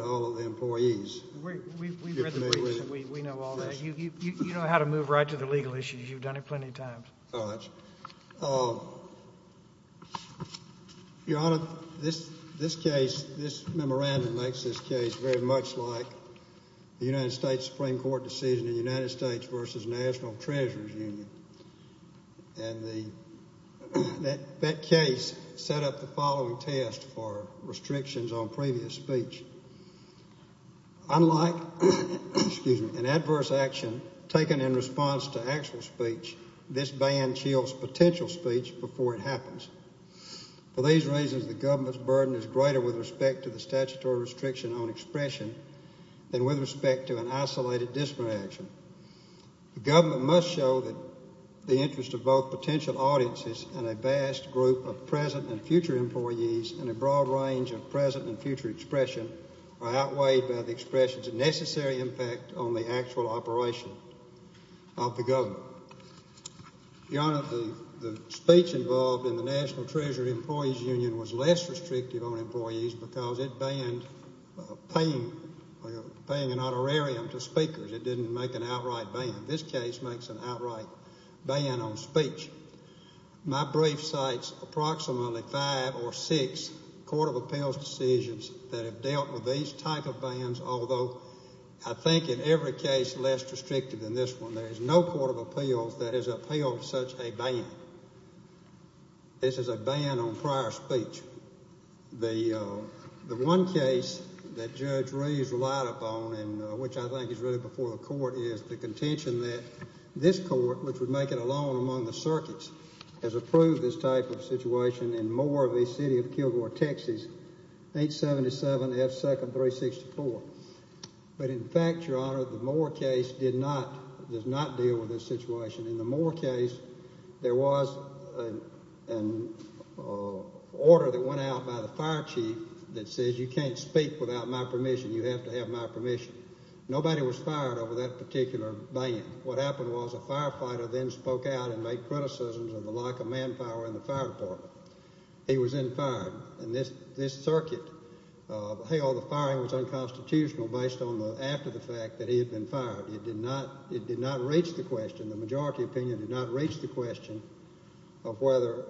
all of the employees. We know all that. You know how to move right to the legal issues. Your Honor, this case, this memorandum makes this case very much like the United States Supreme Court decision in the United States v. National Treasurer's Union. And that case set up the following test for restrictions on previous speech. Unlike an adverse action taken in response to actual speech, this ban chills potential speech before it happens. For these reasons, the government's burden is greater with respect to the statutory restriction on expression than with respect to an isolated disparate action. The government must show that the interest of both potential audiences and a vast group of present and future employees in a broad range of present and future expression are outweighed by the expression's necessary impact on the actual operation of the government. Your Honor, the speech involved in the National Treasurer's Employees Union was less restrictive on employees because it banned paying an honorarium to speakers. It didn't make an outright ban. My brief cites approximately five or six Court of Appeals decisions that have dealt with these type of bans, although I think in every case less restrictive than this one. There is no Court of Appeals that has upheld such a ban. This is a ban on prior speech. The one case that Judge Reeves relied upon, which I think is really before the Court, is the contention that this Court, which would make it alone among the circuits, has approved this type of situation in Moore v. City of Kilgore, Texas, 877 F. 2nd 364. But in fact, Your Honor, the Moore case did not, does not deal with this situation. In the Moore case, there was an order that went out by the fire chief that says you can't speak without my permission, you have to have my permission. Nobody was fired over that particular ban. What happened was a firefighter then spoke out and made criticisms of the lack of manpower in the fire department. He was then fired. And this circuit, hell, the firing was unconstitutional based on the, after the fact that he had been fired. It did not, it did not reach the question, the majority opinion did not reach the question of whether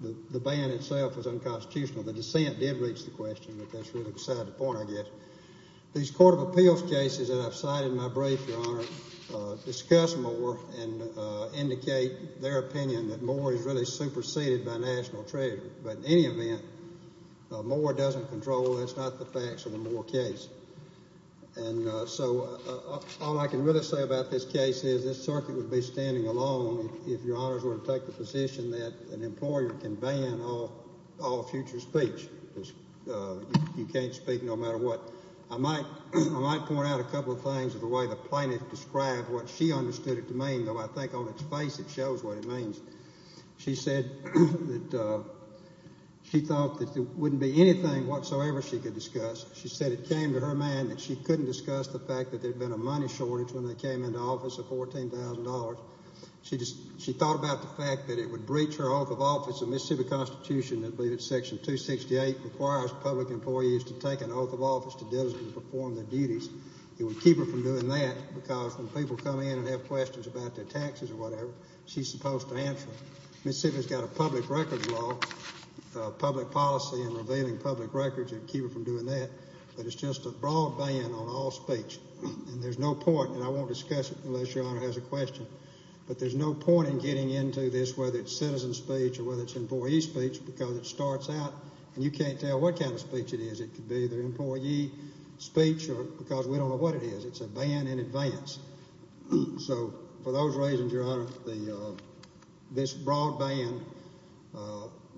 the ban itself was unconstitutional. The dissent did reach the question, but that's really beside the point, I guess. These Court of Appeals cases that I've cited in my brief, Your Honor, discuss Moore and indicate their opinion that Moore is really superseded by national trade. But in any event, Moore doesn't control, that's not the facts of the Moore case. And so all I can really say about this case is this circuit would be standing alone if Your Honors were to take the position that an employer can ban all future speech. You can't speak no matter what. I might point out a couple of things of the way the plaintiff described what she understood it to mean, though I think on its face it shows what it means. She said that she thought that there wouldn't be anything whatsoever she could discuss. She said it came to her mind that she couldn't discuss the fact that there had been a money shortage when they came into office of $14,000. She just, she thought about the fact that it would breach her oath of office. The Mississippi Constitution, I believe it's section 268, requires public employees to take an oath of office to diligently perform their duties. It would keep her from doing that because when people come in and have questions about their taxes or whatever, she's supposed to answer them. Mississippi's got a public records law, public policy and revealing public records, it would keep her from doing that. But it's just a broad ban on all speech. And there's no point, and I won't discuss it unless Your Honor has a question, but there's no point in getting into this whether it's citizen speech or whether it's employee speech because it starts out and you can't tell what kind of speech it is. It could be the employee speech because we don't know what it is. It's a ban in advance. So for those reasons, Your Honor, this broad ban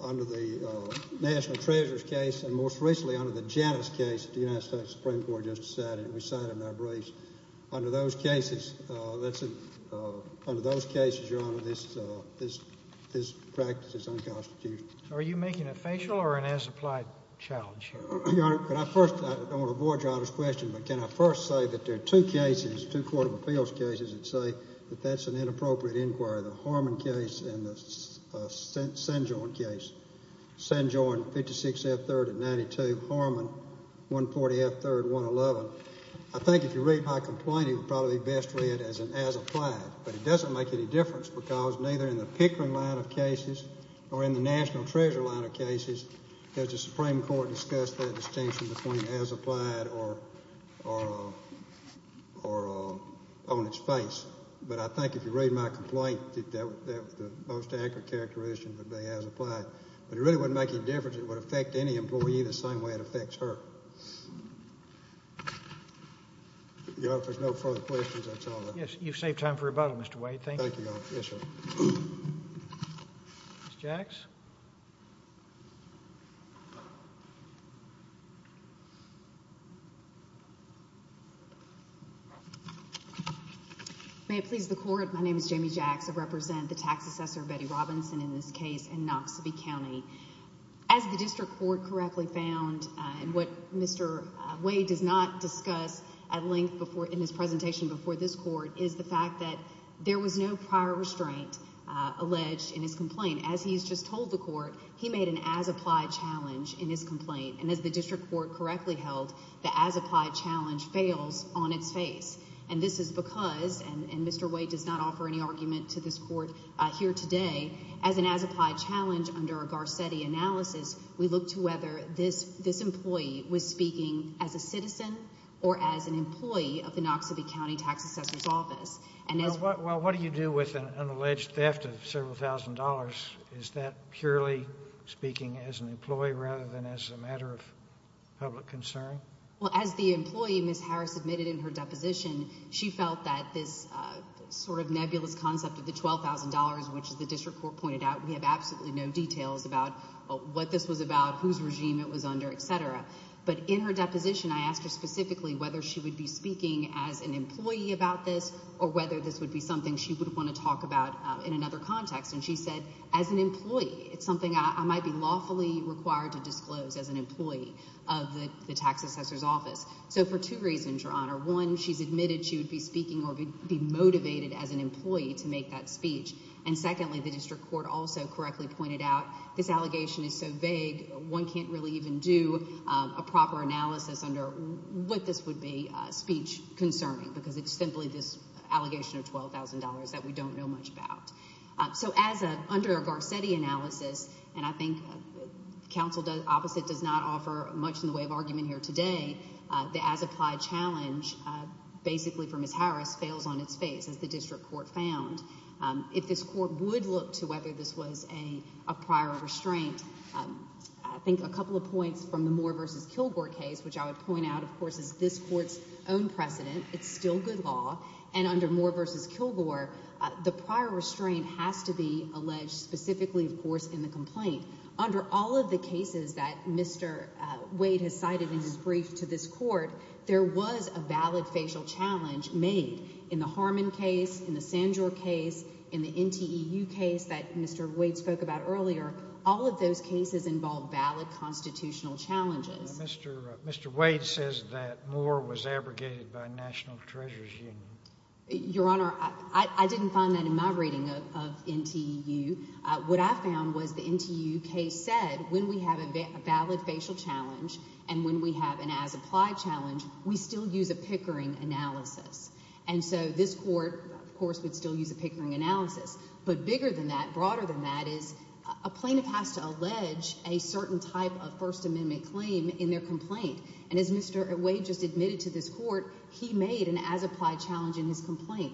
under the National Treasurer's case and most recently under the Janus case that the United States Supreme Court just decided and we cited in our briefs, under those cases, Your Honor, this practice is unconstitutional. Are you making a facial or an as-applied challenge? Your Honor, if there's no further questions, that's all I have. Yes, you've saved time for rebuttal, Mr. Wade. Thank you. Thank you, Your Honor. Yes, sir. Ms. Jacks? May it please the Court, my name is Jamie Jacks. I represent the tax assessor Betty Robinson in this case in Knoxville County. As the district court correctly found and what Mr. Wade does not discuss at length in his presentation before this court is the fact that there was no prior restraint alleged in his complaint. As he's just told the court, he made an as-applied challenge in his complaint. And as the district court correctly held, the as-applied challenge fails on its face. And this is because, and Mr. Wade does not offer any argument to this court here today, as an as-applied challenge under a Garcetti analysis, we look to whether this employee was speaking as a citizen or as an employee of the Knoxville County Tax Assessor's Office. Well, what do you do with an alleged theft of several thousand dollars? Is that purely speaking as an employee rather than as a matter of public concern? Well, as the employee, Ms. Harris, admitted in her deposition, she felt that this sort of nebulous concept of the $12,000, which the district court pointed out, we have absolutely no details about what this was about, whose regime it was under, etc. But in her deposition, I asked her specifically whether she would be speaking as an employee about this or whether this would be something she would want to talk about in another context. And she said, as an employee, it's something I might be lawfully required to disclose as an employee of the Tax Assessor's Office. So for two reasons, Your Honor. One, she's admitted she would be speaking or be motivated as an employee to make that speech. And secondly, the district court also correctly pointed out this allegation is so vague, one can't really even do a proper analysis under what this would be speech concerning, because it's simply this allegation of $12,000 that we don't know much about. So under a Garcetti analysis, and I think counsel opposite does not offer much in the way of argument here today, the as-applied challenge basically for Ms. Harris fails on its face, as the district court found. If this court would look to whether this was a prior restraint, I think a couple of points from the Moore v. Kilgore case, which I would point out, of course, is this court's own precedent. It's still good law, and under Moore v. Kilgore, the prior restraint has to be alleged specifically, of course, in the complaint. Under all of the cases that Mr. Wade has cited in his brief to this court, there was a valid facial challenge made. In the Harmon case, in the Sandor case, in the NTEU case that Mr. Wade spoke about earlier, all of those cases involved valid constitutional challenges. Mr. Wade says that Moore was abrogated by National Treasurer's Union. Your Honor, I didn't find that in my reading of NTEU. What I found was the NTEU case said when we have a valid facial challenge and when we have an as-applied challenge, we still use a Pickering analysis. And so this court, of course, would still use a Pickering analysis. But bigger than that, broader than that, is a plaintiff has to allege a certain type of First Amendment claim in their complaint. And as Mr. Wade just admitted to this court, he made an as-applied challenge in his complaint.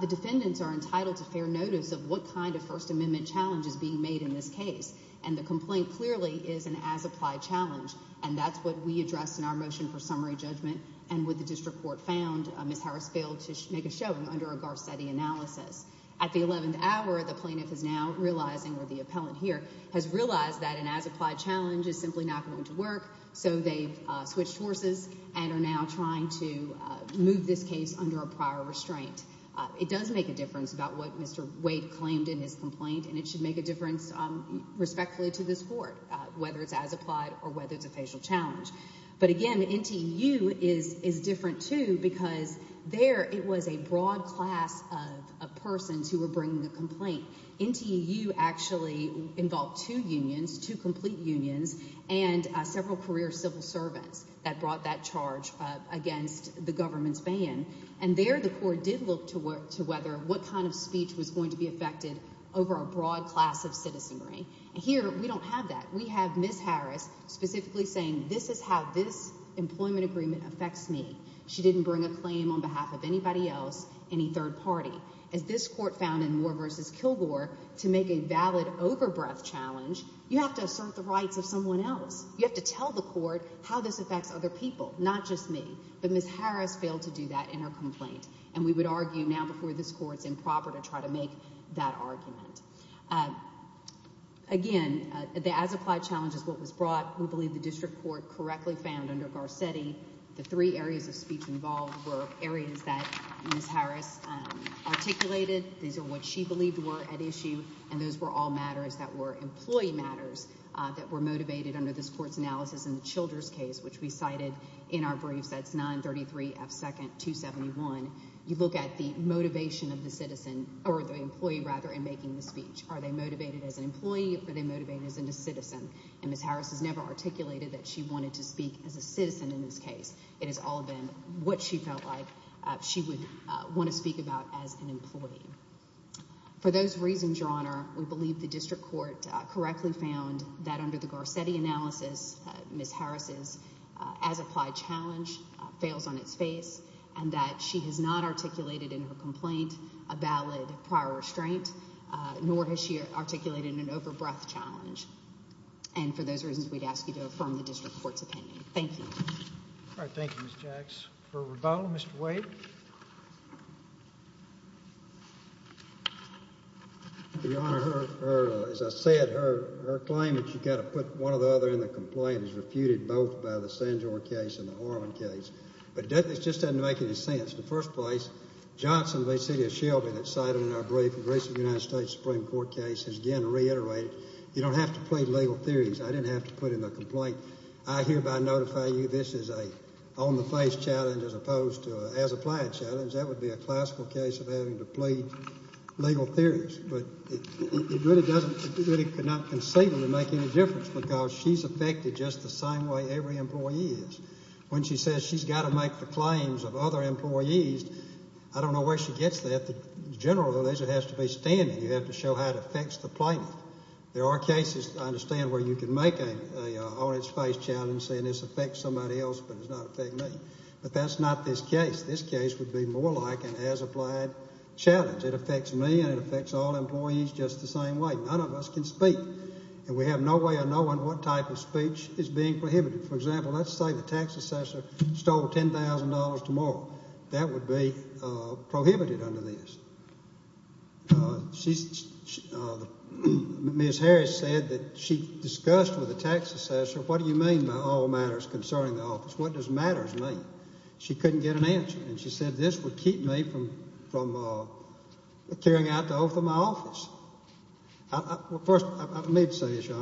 The defendants are entitled to fair notice of what kind of First Amendment challenge is being made in this case. And the complaint clearly is an as-applied challenge. And that's what we addressed in our motion for summary judgment. And what the district court found, Ms. Harris failed to make a showing under a Garcetti analysis. At the 11th hour, the plaintiff is now realizing, or the appellant here, has realized that an as-applied challenge is simply not going to work. So they've switched forces and are now trying to move this case under a prior restraint. It does make a difference about what Mr. Wade claimed in his complaint. And it should make a difference respectfully to this court, whether it's as-applied or whether it's a facial challenge. But again, NTEU is different, too, because there it was a broad class of persons who were bringing the complaint. NTEU actually involved two unions, two complete unions, and several career civil servants that brought that charge against the government's ban. And there the court did look to whether what kind of speech was going to be affected over a broad class of citizenry. And here we don't have that. We have Ms. Harris specifically saying this is how this employment agreement affects me. She didn't bring a claim on behalf of anybody else, any third party. As this court found in Moore v. Kilgore, to make a valid overbreath challenge, you have to assert the rights of someone else. You have to tell the court how this affects other people, not just me. But Ms. Harris failed to do that in her complaint. And we would argue now before this court it's improper to try to make that argument. Again, the as-applied challenge is what was brought. We believe the district court correctly found under Garcetti the three areas of speech involved were areas that Ms. Harris articulated. These are what she believed were at issue. And those were all matters that were employee matters that were motivated under this court's analysis in the Childers case, which we cited in our briefs. That's 933 F. 2nd 271. You look at the motivation of the citizen or the employee, rather, in making the speech. Are they motivated as an employee or are they motivated as a citizen? And Ms. Harris has never articulated that she wanted to speak as a citizen in this case. It has all been what she felt like she would want to speak about as an employee. For those reasons, Your Honor, we believe the district court correctly found that under the Garcetti analysis, Ms. Harris's as-applied challenge fails on its face. And that she has not articulated in her complaint a valid prior restraint, nor has she articulated an over-breath challenge. And for those reasons, we'd ask you to affirm the district court's opinion. Thank you. All right. Thank you, Ms. Jax. For rebuttal, Mr. Wade. Your Honor, as I said, her claim that you've got to put one or the other in the complaint is refuted both by the Sandor case and the Harlan case. But it just doesn't make any sense. In the first place, Johnson v. City of Shelby, that's cited in our brief, a recent United States Supreme Court case, has again reiterated you don't have to plead legal theories. I didn't have to put in the complaint. I hereby notify you this is an on-the-face challenge as opposed to an as-applied challenge. That would be a classical case of having to plead legal theories. But it really doesn't, it really could not conceivably make any difference because she's affected just the same way every employee is. When she says she's got to make the claims of other employees, I don't know where she gets that. The general rule is it has to be standing. You have to show how it affects the plaintiff. There are cases, I understand, where you can make an on-its-face challenge saying this affects somebody else but does not affect me. But that's not this case. This case would be more like an as-applied challenge. It affects me and it affects all employees just the same way. None of us can speak. And we have no way of knowing what type of speech is being prohibited. For example, let's say the tax assessor stole $10,000 tomorrow. That would be prohibited under this. Ms. Harris said that she discussed with the tax assessor what do you mean by all matters concerning the office? What does matters mean? She couldn't get an answer. And she said this would keep me from carrying out the oath of my office. First, I need to say this, Your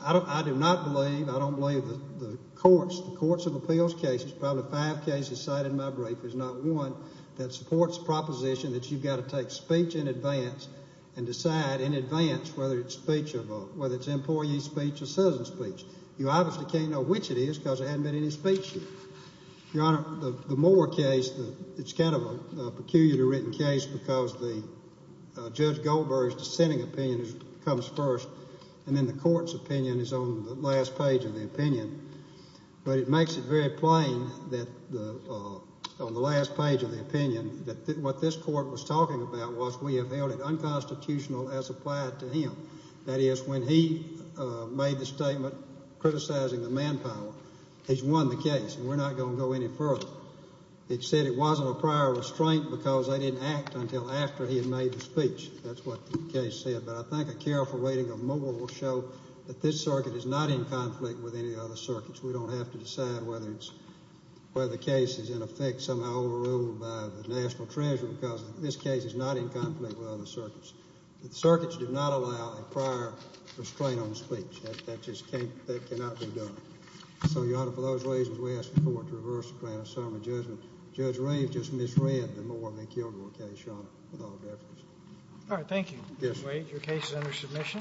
Honor. I do not believe, I don't believe the courts, the courts of appeals cases, probably five cases cited in my brief, is not one that supports the proposition that you've got to take speech in advance and decide in advance whether it's speech of a, whether it's employee speech or citizen speech. You obviously can't know which it is because there hasn't been any speech here. Your Honor, the Moore case, it's kind of a peculiarly written case because Judge Goldberg's dissenting opinion comes first and then the court's opinion is on the last page of the opinion. But it makes it very plain that on the last page of the opinion that what this court was talking about was we have held it unconstitutional as applied to him. That is, when he made the statement criticizing the manpower, he's won the case and we're not going to go any further. It said it wasn't a prior restraint because they didn't act until after he had made the speech. That's what the case said. But I think a careful weighting of Moore will show that this circuit is not in conflict with any other circuits. We don't have to decide whether it's, whether the case is in effect somehow overruled by the national treasury because this case is not in conflict with other circuits. The circuits do not allow a prior restraint on speech. That just can't, that cannot be done. So, Your Honor, for those reasons, we ask the court to reverse the plan of summary judgment. Judge Raines just misread the Moore v. Kielgore case, Your Honor, without a doubt. All right, thank you. Yes, sir. Your case is under submission.